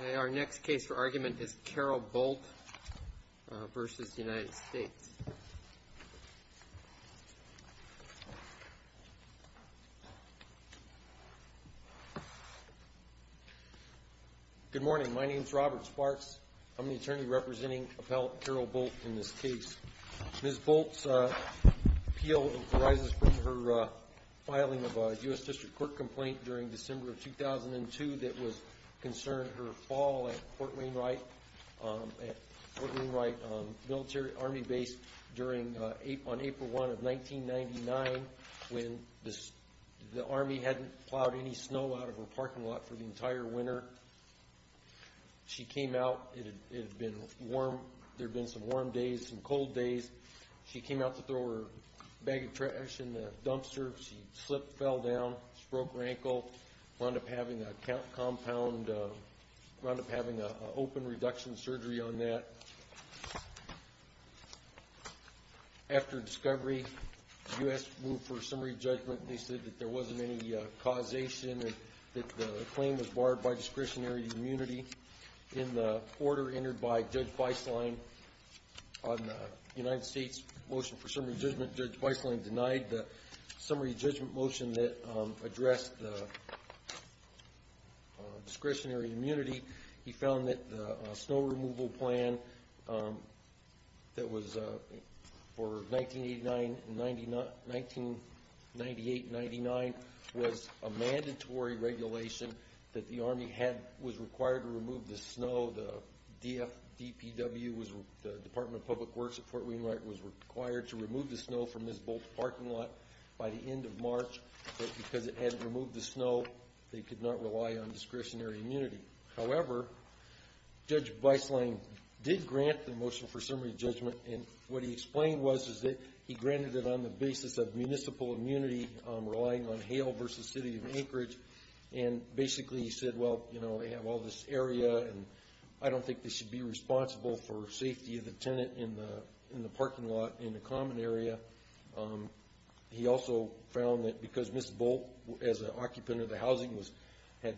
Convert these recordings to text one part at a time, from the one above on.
Okay, our next case for argument is Carol Bolt v. United States. Good morning. My name is Robert Sparks. I'm the attorney representing appellate Carol Bolt in this case. Ms. Bolt's appeal arises from her filing of a U.S. District Court complaint during December of 2002 that was concerned her fall at Fort Wainwright Military Army Base on April 1 of 1999 when the Army hadn't plowed any snow out of her parking lot for the entire winter. She came out. It had been warm. There had been some warm days, some cold days. She came out to throw her bag of trash in the dumpster. She slipped, fell down, broke her ankle, wound up having a compound, wound up having an open reduction surgery on that. After discovery, the U.S. moved for a summary judgment, and they said that there wasn't any causation, that the claim was barred by discretionary immunity. In the order entered by Judge Weisslein on the United States motion for summary judgment, Judge Weisslein denied the summary judgment motion that addressed the discretionary immunity. He found that the snow removal plan that was for 1998-99 was a mandatory regulation that the Army was required to remove the snow. The Department of Public Works at Fort Wainwright was required to remove the snow from Ms. Bolt's parking lot by the end of March, but because it hadn't removed the snow, they could not rely on discretionary immunity. However, Judge Weisslein did grant the motion for summary judgment. What he explained was that he granted it on the basis of municipal immunity, relying on Hale v. City of Anchorage. Basically, he said, well, they have all this area and I don't think they should be responsible for safety of the tenant in the parking lot in the common area. He also found that because Ms. Bolt, as an occupant of the housing, had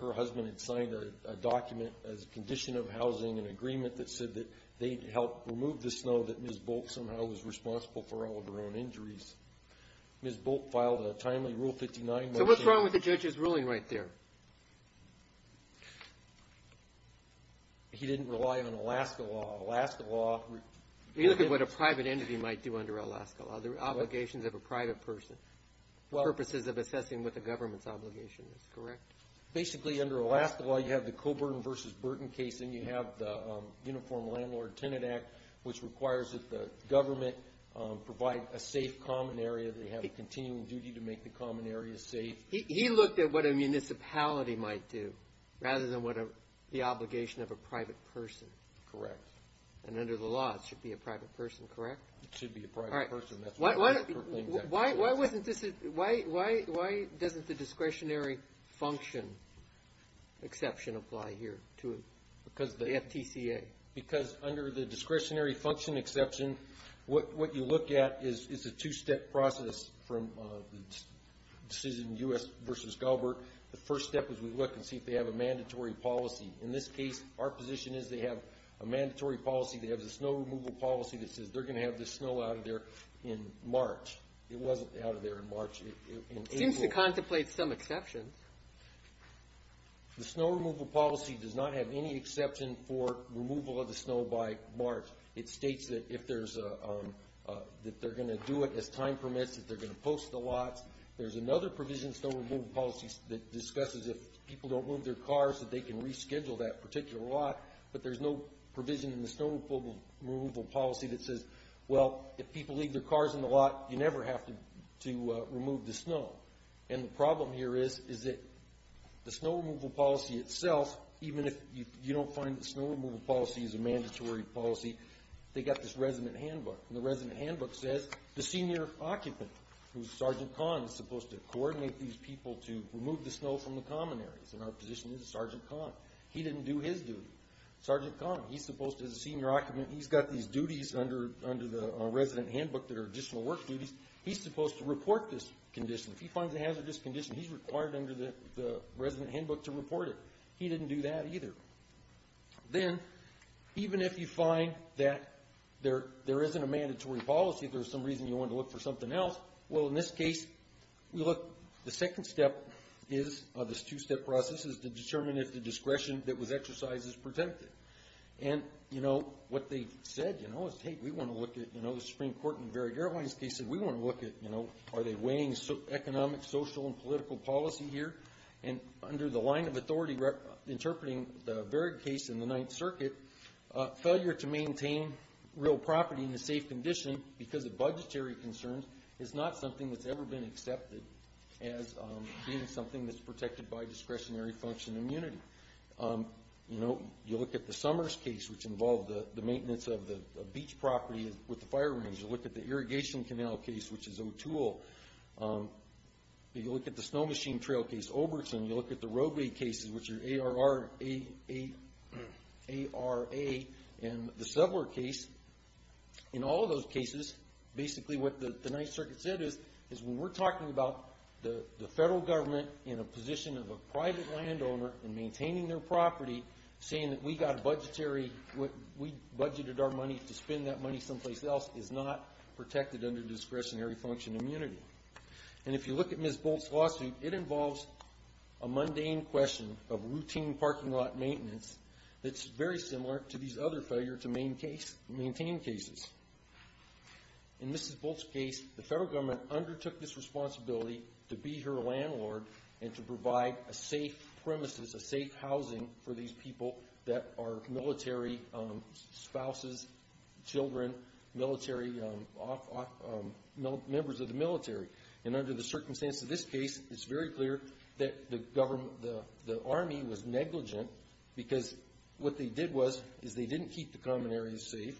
her husband had signed a document as a condition of housing, an agreement that said that they helped remove the snow, that Ms. Bolt somehow was responsible for all of her own injuries. Ms. Bolt filed a timely Rule 59 motion. So what's wrong with the judge's ruling right there? He didn't rely on Alaska law. Alaska law... He looked at what a private entity might do under Alaska law, the obligations of a private person, purposes of assessing what the government's obligation is, correct? Basically, under Alaska law, you have the Coburn v. Burton case and you have the Uniform Landlord-Tenant Act, which requires that the government provide a safe common area. They have a continuing duty to make the common area safe. He looked at what a municipality might do, rather than what the obligation of a private person. Correct. And under the law, it should be a private person, correct? It should be a private person. Why doesn't the discretionary function exception apply here to the FTCA? Because under the discretionary function exception, what you look at is a two-step process from the decision U.S. v. Galbert. The first step is we look and see if they have a mandatory policy. In this case, our position is they have a mandatory policy. They have a snow removal policy that says they're going to have the snow out of there in March. It wasn't out of there in March. It seems to contemplate some exceptions. The snow removal policy does not have any exception for removal of the snow by March. It states that if there's a... that they're going to do it as time permits, that they're going to post the lots. There's another provision of snow removal policies that discusses if people don't move their cars, that they can reschedule that particular lot. But there's no provision in the snow removal policy that says, well, if people leave their cars in the lot, you never have to remove the snow. And the problem here is, is that the snow removal policy itself, even if you don't find the snow removal policy is a mandatory policy, they got this resident handbook. And the resident handbook says the senior occupant, who's Sergeant Kahn, is supposed to coordinate these people to remove the snow from the common areas. And our position is Sergeant Kahn. He didn't do his duty. Sergeant Kahn, he's supposed to, as a senior occupant, he's got these duties under the resident handbook that are additional work duties. He's supposed to report this condition. If he finds a hazardous condition, he's required under the resident handbook to report it. He didn't do that either. Then, even if you find that there isn't a mandatory policy, if there's some reason you So, look, the second step is, this two-step process, is to determine if the discretion that was exercised is protected. And, you know, what they said, you know, is, hey, we want to look at, you know, the Supreme Court in the Varied Airlines case. They said, we want to look at, you know, are they weighing economic, social, and political policy here? And under the line of authority interpreting the Varied case in the Ninth Circuit, failure to maintain real property in a safe condition because of budgetary concerns is not something that's ever been accepted as being something that's protected by discretionary function immunity. You know, you look at the Summers case, which involved the maintenance of the beach property with the fire rangers. You look at the Irrigation Canal case, which is O'Toole. You look at the Snow Machine Trail case, Obertson. You look at the roadway cases, which are A-R-R, A-A, A-R-A, and the Subler case. In all of those cases, basically what the Ninth Circuit said is, is when we're talking about the federal government in a position of a private landowner and maintaining their property, saying that we got a budgetary, we budgeted our money to spend that money someplace else is not protected under discretionary function immunity. And if you look at Ms. Bolt's lawsuit, it involves a mundane question of routine parking lot maintenance that's very similar to these other failure to maintain cases. In Ms. Bolt's case, the federal government undertook this responsibility to be her landlord and to provide a safe premises, a safe housing for these people that are military spouses, children, members of the military. And under the circumstances of this case, it's very clear that the Army was negligent because what they did was, is they didn't keep the common areas safe.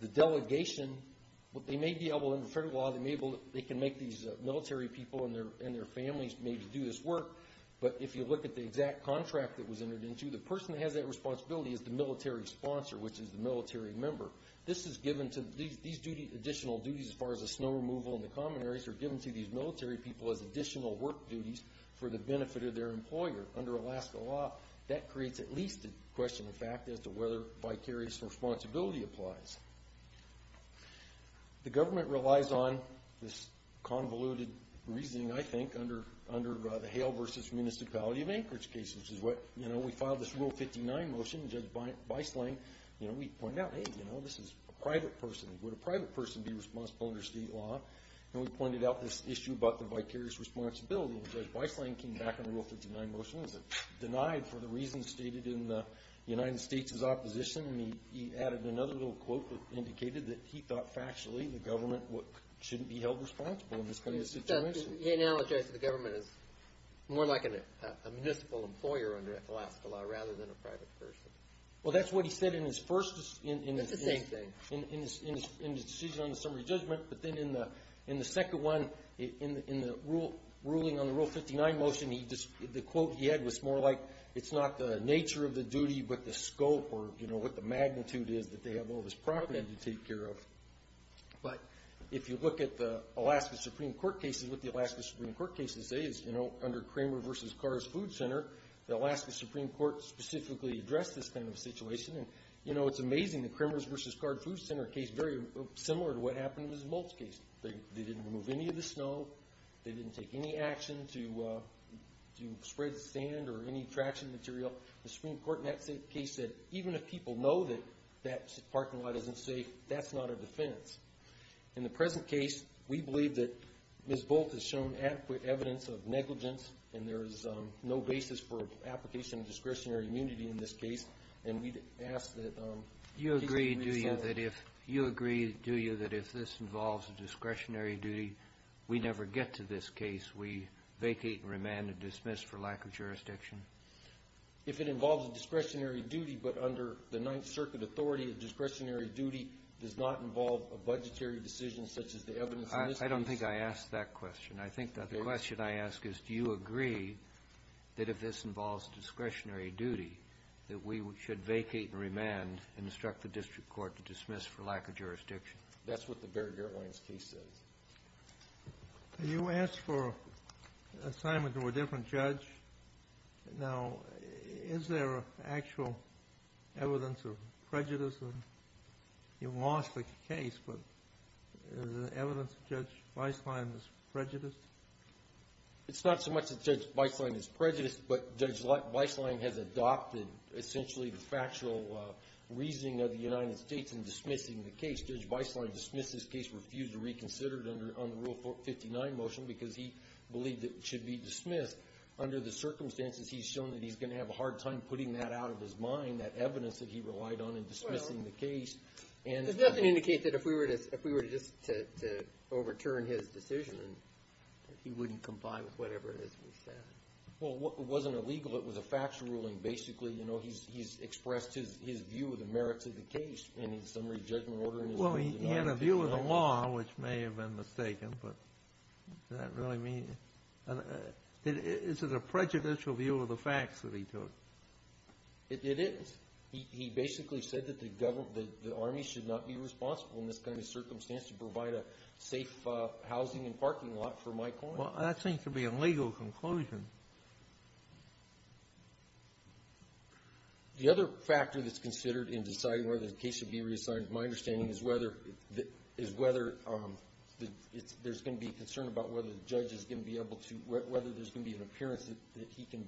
The delegation, what they may be able in the federal law, they can make these military people and their families maybe do this work. But if you look at the exact contract that was entered into, the person that has that responsibility is the military sponsor, which is the military member. This is given to, these additional duties as far as the snow removal and the common areas are given to these military people as additional work duties for the benefit of their employer. Under Alaska law, that creates at least a question of fact as to whether vicarious responsibility applies. The government relies on this convoluted reasoning, I think, under the Hale v. Municipality of Anchorage case, which is what, you know, we filed this Rule 59 motion, and Judge Beisling, you know, we pointed out, hey, you know, this is a private person. Would a private person be responsible under state law? And we pointed out this issue about the vicarious responsibility, and Judge Beisling came back on the Rule 59 motion and said, denied for the reasons stated in the United States' opposition. And he added another little quote that indicated that he thought factually the government shouldn't be held responsible in this kind of situation. He analogized the government as more like a municipal employer under Alaska law rather than a private person. Well, that's what he said in his first decision on the summary judgment, but then in the second one, in the ruling on the Rule 59 motion, the quote he had was more like, it's not the nature of the duty, but the scope or, you know, what the magnitude is that they have all this property to take care of. But if you look at the Alaska Supreme Court cases, what the Alaska Supreme Court cases say is, you know, under Kramer v. Carr's Food Center, the Alaska Supreme Court specifically addressed this kind of situation. And, you know, it's amazing, the Kramer v. Carr's Food Center case, very similar to what happened in Ms. Bolt's case. They didn't remove any of the snow. They didn't take any action to spread sand or any traction material. The Supreme Court in that case said, even if people know that that parking lot isn't safe, that's not a defense. In the present case, we believe that Ms. Bolt has shown adequate evidence of negligence and there is no basis for application of discretionary immunity in this case. And we'd ask that cases be resolved. You agree, do you, that if this involves a discretionary duty, we never get to this case, we vacate and remand and dismiss for lack of jurisdiction? If it involves a discretionary duty, but under the Ninth Circuit authority, a discretionary duty does not involve a budgetary decision such as the evidence in this case. I don't think I asked that question. I think that the question I ask is, do you agree that if this involves a discretionary duty, that we should vacate and remand and instruct the district court to dismiss for lack of jurisdiction? That's what the Baird-Gertleman case says. You asked for an assignment to a different judge. Now, is there actual evidence of prejudice? You lost the case, but is there evidence that Judge Beislein is prejudiced? It's not so much that Judge Beislein is prejudiced, but Judge Beislein has adopted essentially the factual reasoning of the United States in dismissing the case. Judge Beislein dismissed this case, refused to reconsider it under Rule 59 motion because he believed it should be dismissed. Under the circumstances, he's shown that he's going to have a hard time putting that out of his mind, that evidence that he relied on in dismissing the case. Does that indicate that if we were to just overturn his decision, he wouldn't comply with whatever it is we said? Well, it wasn't illegal. It was a factual ruling. Basically, he's expressed his view of the merits of the case in the summary judgment order. Well, he had a view of the law, which may have been mistaken, but does that really mean? And is it a prejudicial view of the facts that he took? It is. He basically said that the government, the army should not be responsible in this kind of circumstance to provide a safe housing and parking lot for my client. Well, that seems to be a legal conclusion. The other factor that's considered in deciding whether the case should be reassigned, in my understanding, is whether there's going to be a concern about whether the judge is going to be able to, whether there's going to be an appearance that he can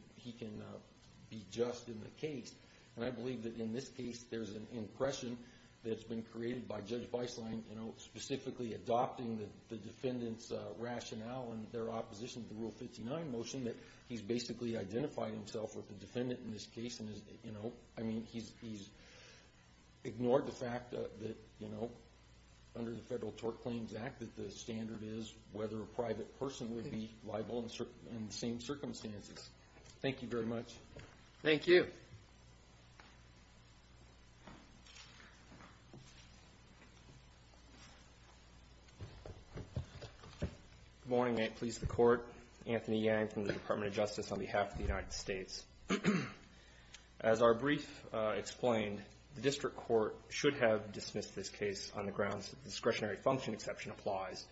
be just in the case. And I believe that in this case, there's an impression that's been created by Judge Weisslein specifically adopting the defendant's rationale and their opposition to the Rule 59 motion, that he's basically identified himself with the defendant in this case. And, you know, I mean, he's ignored the fact that, you know, under the Federal Tort Claims Act that the standard is whether a private person would be liable in the same circumstances. Thank you very much. Thank you. Good morning. May it please the Court. Anthony Yang from the Department of Justice on behalf of the United States. As our brief explained, the district court should have dismissed this case on the grounds that the discretionary function exception applies.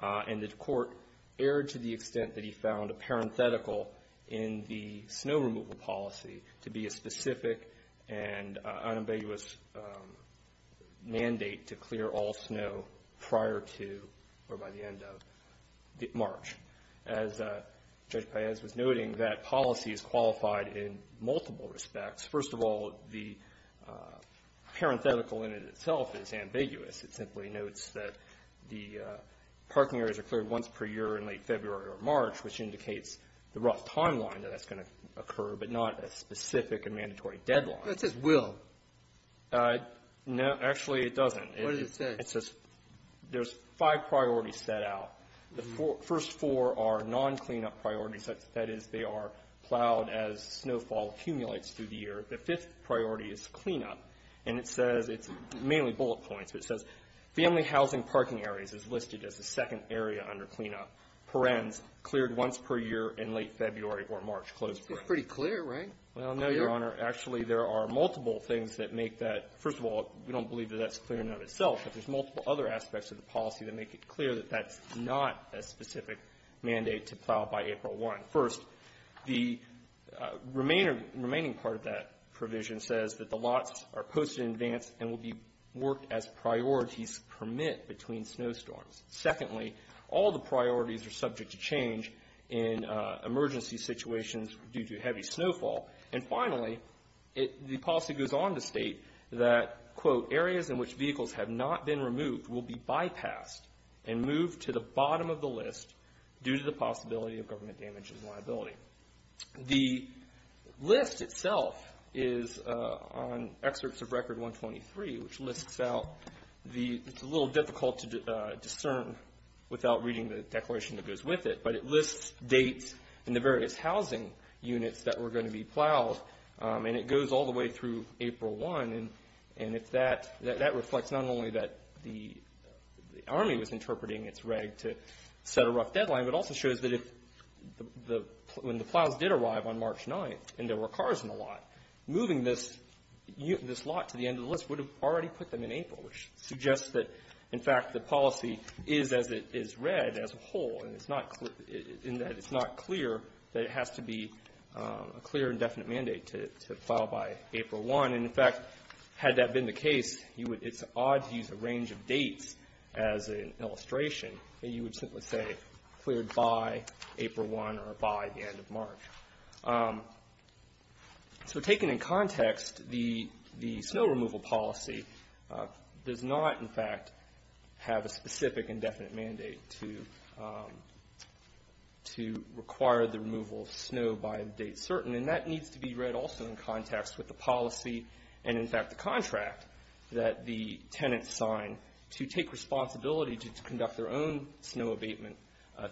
And the court erred to the extent that he found a parenthetical in the snow removal policy to be a specific and unambiguous mandate to clear all snow prior to or by the end of March. As Judge Paez was noting, that policy is qualified in multiple respects. First of all, the parenthetical in it itself is ambiguous. It simply notes that the parking areas are cleared once per year in late February or March, which indicates the rough timeline that that's going to occur, but not a specific and mandatory deadline. That says will. No, actually, it doesn't. What does it say? It says there's five priorities set out. The first four are non-clean-up priorities. That is, they are plowed as snowfall accumulates through the year. The fifth priority is clean-up. And it says it's mainly bullet points. It says family housing parking areas is listed as the second area under clean-up per-ens, cleared once per year in late February or March, closed per-ens. It's pretty clear, right? Well, no, Your Honor. Actually, there are multiple things that make that. First of all, we don't believe that that's clear in and of itself, but there's multiple other aspects of the policy that make it clear that that's not a specific mandate to plow by April 1. First, the remaining part of that provision says that the lots are posted in advance and will be worked as priorities permit between snowstorms. Secondly, all the priorities are subject to change in emergency situations due to heavy snowfall. And finally, the policy goes on to state that, quote, areas in which vehicles have not been removed will be bypassed and moved to the bottom of the list due to the possibility of government damages and liability. The list itself is on Excerpts of Record 123, which lists out the – it's a little difficult to discern without reading the declaration that goes with it, but it is going to be plowed, and it goes all the way through April 1. And if that – that reflects not only that the Army was interpreting its reg to set a rough deadline, but also shows that if the – when the plows did arrive on March 9th and there were cars in the lot, moving this lot to the end of the list would have already put them in April, which suggests that, in fact, the policy is read as a whole, and it's not – in that it's not clear that it has to be a clear and definite mandate to plow by April 1. And, in fact, had that been the case, you would – it's odd to use a range of dates as an illustration that you would simply say cleared by April 1 or by the end of March. So taken in context, the snow removal policy does not, in fact, have a specific and definite mandate to require the removal of snow by a date certain, and that needs to be read also in context with the policy and, in fact, the contract that the tenants sign to take responsibility to conduct their own snow abatement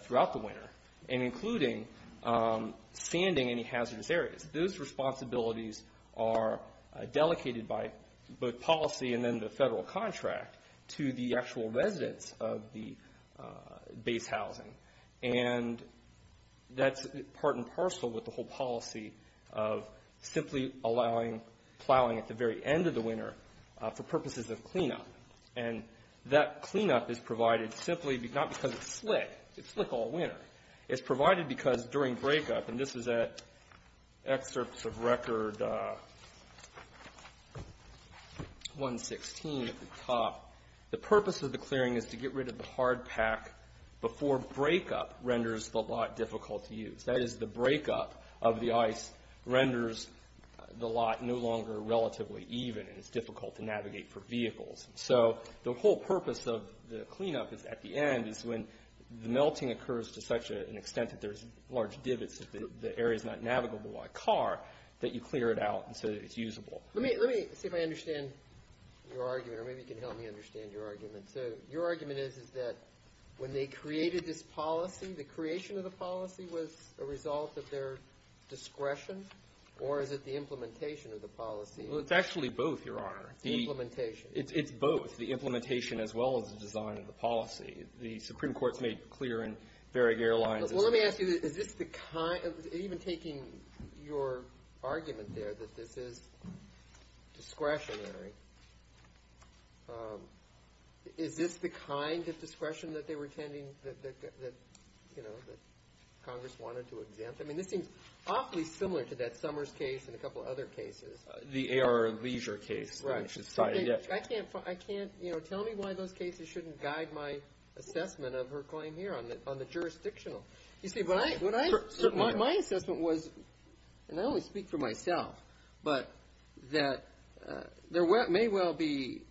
throughout the winter, and including sanding any hazardous areas. Those responsibilities are delegated by both policy and then the federal contract to the actual residents of the base housing. And that's part and parcel with the whole policy of simply allowing plowing at the very end of the winter for purposes of cleanup. And that cleanup is provided simply not because it's slick – it's slick all winter – it's provided because during breakup – and this is at excerpts of top – the purpose of the clearing is to get rid of the hard pack before breakup renders the lot difficult to use. That is, the breakup of the ice renders the lot no longer relatively even, and it's difficult to navigate for vehicles. So the whole purpose of the cleanup is, at the end, is when the melting occurs to such an extent that there's large divots, the area's not navigable by car, that you clear it out so that it's usable. Let me – let me see if I understand your argument, or maybe you can help me understand your argument. So your argument is, is that when they created this policy, the creation of the policy was a result of their discretion? Or is it the implementation of the policy? Well, it's actually both, Your Honor. The implementation. It's both. The implementation as well as the design of the policy. The Supreme Court's made clear in Varieg Airlines is – Even taking your argument there that this is discretionary, is this the kind of discretion that they were intending that, you know, that Congress wanted to exempt? I mean, this seems awfully similar to that Summers case and a couple other cases. The Aero Leisure case. Right. Which is cited. I can't – I can't – you know, tell me why those cases shouldn't guide my assessment of her claim here on the jurisdictional. You see, what I – my assessment was – and I only speak for myself – but that there may well be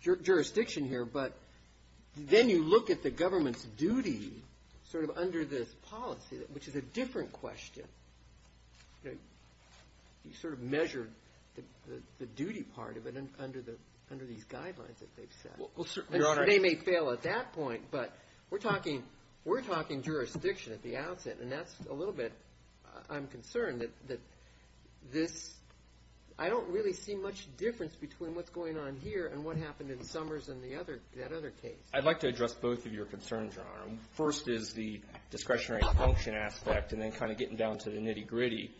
jurisdiction here, but then you look at the government's duty sort of under this policy, which is a different question. You sort of measure the duty part of it under the – under these guidelines Well, certainly, Your Honor – They may fail at that point, but we're talking – we're talking jurisdiction at the outset, and that's a little bit – I'm concerned that this – I don't really see much difference between what's going on here and what happened in Summers and the other – that other case. I'd like to address both of your concerns, Your Honor. First is the discretionary function aspect, and then kind of getting down to the nitty-gritty,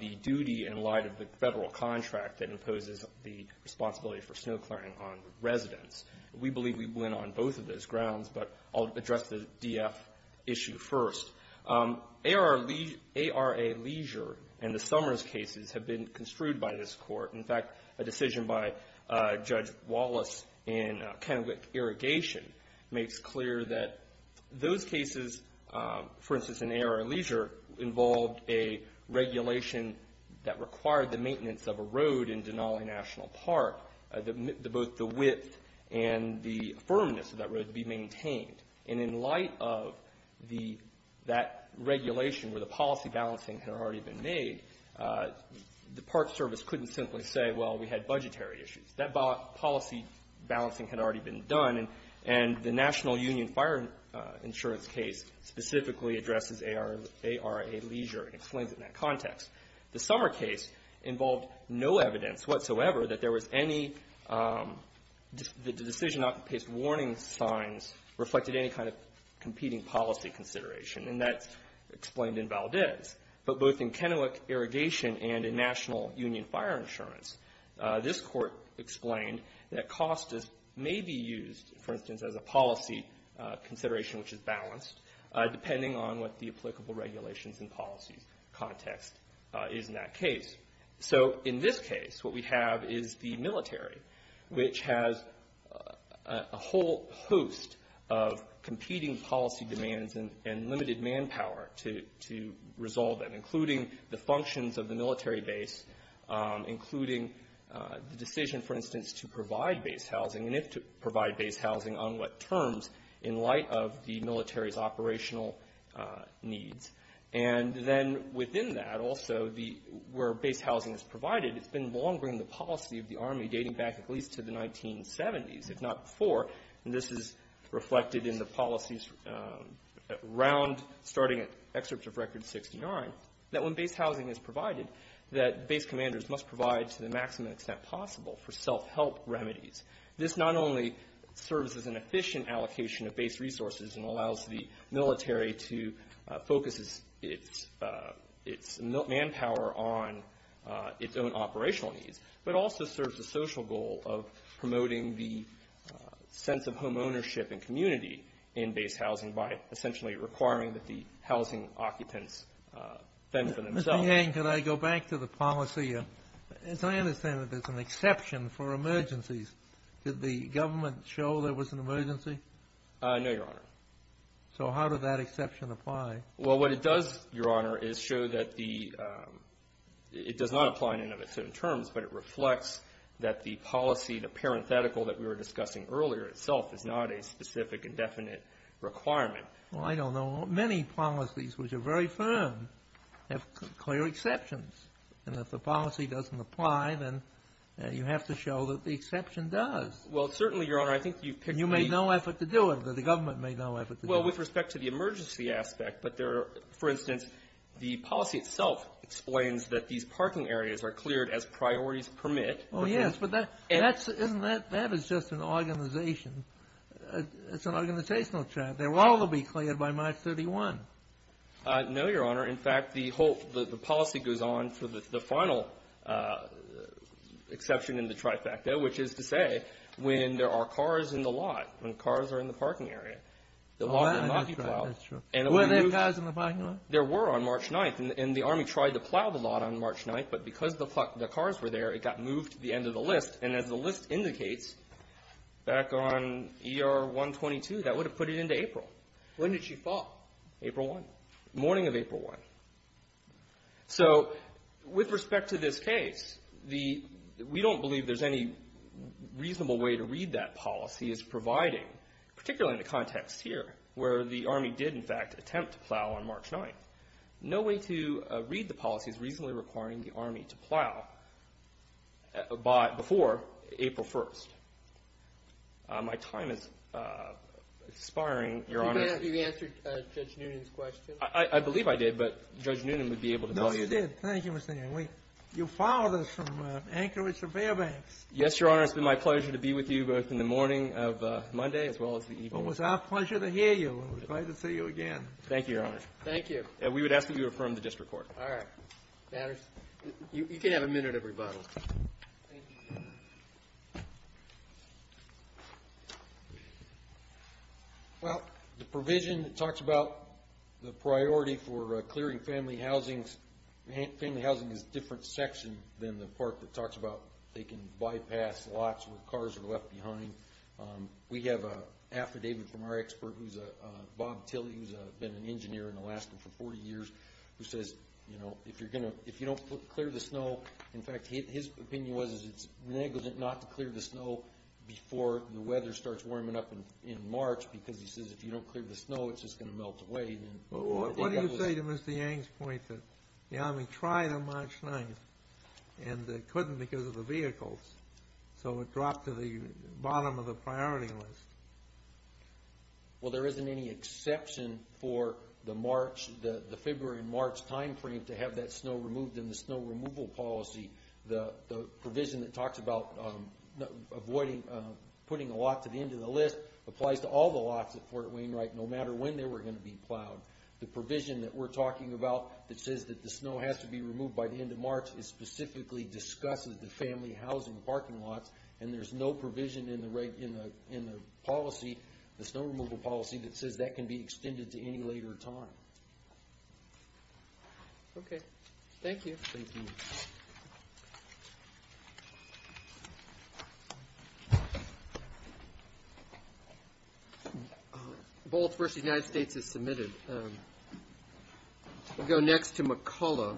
the duty in light of the federal contract that imposes the responsibility for snow clearing on residents. We believe we went on both of those grounds, but I'll address the DF issue first. ARA Leisure and the Summers cases have been construed by this Court. In fact, a decision by Judge Wallace in Kennewick Irrigation makes clear that those cases, for instance, in ARA Leisure, involved a regulation that required the maintenance of a road in Denali National Park, that both the width and the firmness of that road be maintained. And in light of the – that regulation where the policy balancing had already been made, the Park Service couldn't simply say, well, we had budgetary issues. That policy balancing had already been done, and the National Union Fire Insurance case specifically addresses ARA Leisure and explains it in that context. The Summer case involved no evidence whatsoever that there was any – the decision not to place warning signs reflected any kind of competing policy consideration, and that's explained in Valdez. But both in Kennewick Irrigation and in National Union Fire Insurance, this Court explained that cost may be used, for instance, as a policy consideration which is balanced, depending on what the applicable regulations and policies context is in that case. So in this case, what we have is the military, which has a whole host of competing policy demands and limited manpower to resolve them, including the functions of the military base, including the decision, for instance, to provide base housing and if to provide base housing, on what terms, in light of the military's operational needs. And then within that also, where base housing is provided, it's been long been the policy of the Army dating back at least to the 1970s, if not before. And this is reflected in the policies around – starting at Excerpt of Record 69, that when base housing is provided, that base commanders must provide, to the maximum extent possible, for self-help remedies. This not only serves as an efficient allocation of base resources and allows the military to focus its manpower on its own operational needs, but also serves a social goal of promoting the sense of homeownership and community in base housing by essentially requiring that the housing occupants fend for themselves. Mr. Yang, could I go back to the policy? As I understand it, there's an exception for emergencies. Did the government show there was an emergency? No, Your Honor. So how did that exception apply? Well, what it does, Your Honor, is show that the – it does not apply in any of its terms, but it reflects that the policy, the parenthetical that we were discussing earlier itself, is not a specific and definite requirement. Well, I don't know. Many policies, which are very firm, have clear exceptions. And if the policy doesn't apply, then you have to show that the exception does. Well, certainly, Your Honor, I think you've picked the – You made no effort to do it. The government made no effort to do it. Well, with respect to the emergency aspect, but there are – for instance, the policy itself explains that these parking areas are cleared as priorities permit. Oh, yes, but that's – isn't that – that is just an organization. It's an organizational trap. But they're all to be cleared by March 31. No, Your Honor. In fact, the whole – the policy goes on for the final exception in the trifecta, which is to say when there are cars in the lot, when cars are in the parking area. Oh, that's right. That's true. Were there cars in the parking lot? There were on March 9th, and the Army tried to plow the lot on March 9th, but because the cars were there, it got moved to the end of the list. And as the list indicates, back on ER-122, that would have put it into April. When did she fall? April 1, morning of April 1. So with respect to this case, the – we don't believe there's any reasonable way to read that policy as providing, particularly in the context here, where the Army did, in fact, attempt to plow on March 9th. No way to read the policy is reasonably requiring the Army to plow before April 1. My time is expiring, Your Honor. You answered Judge Noonan's question. I believe I did, but Judge Noonan would be able to tell you. No, you did. Thank you, Mr. Noonan. You followed us from Anchorage to Fairbanks. Yes, Your Honor. It's been my pleasure to be with you both in the morning of Monday as well as the evening. Well, it was our pleasure to hear you. It was great to see you again. Thank you, Your Honor. Thank you. We would ask that you affirm the district court. All right. Matters. You can have a minute of rebuttal. Well, the provision talks about the priority for clearing family housings. Family housing is a different section than the part that talks about they can bypass lots where cars are left behind. We have an affidavit from our expert, Bob Tilly, who has been an engineer in Alaska for 40 years, who says if you don't clear the snow, in fact, his opinion was it's negligent not to clear the snow before the weather starts warming up in March because he says if you don't clear the snow, it's just going to melt away. What do you say to Mr. Yang's point that the Army tried on March 9th and they couldn't because of the vehicles. So it dropped to the bottom of the priority list. Well, there isn't any exception for the February and March time frame to have that snow removed in the snow removal policy. The provision that talks about putting a lot to the end of the list applies to all the lots at Fort Wainwright no matter when they were going to be plowed. The provision that we're talking about that says that the snow has to be removed by the end of March specifically discusses the family housing parking lots and there's no provision in the policy, the snow removal policy, that says that can be extended to any later time. Okay. Thank you. Thank you. The bullet for the United States is submitted. We'll go next to McCullough.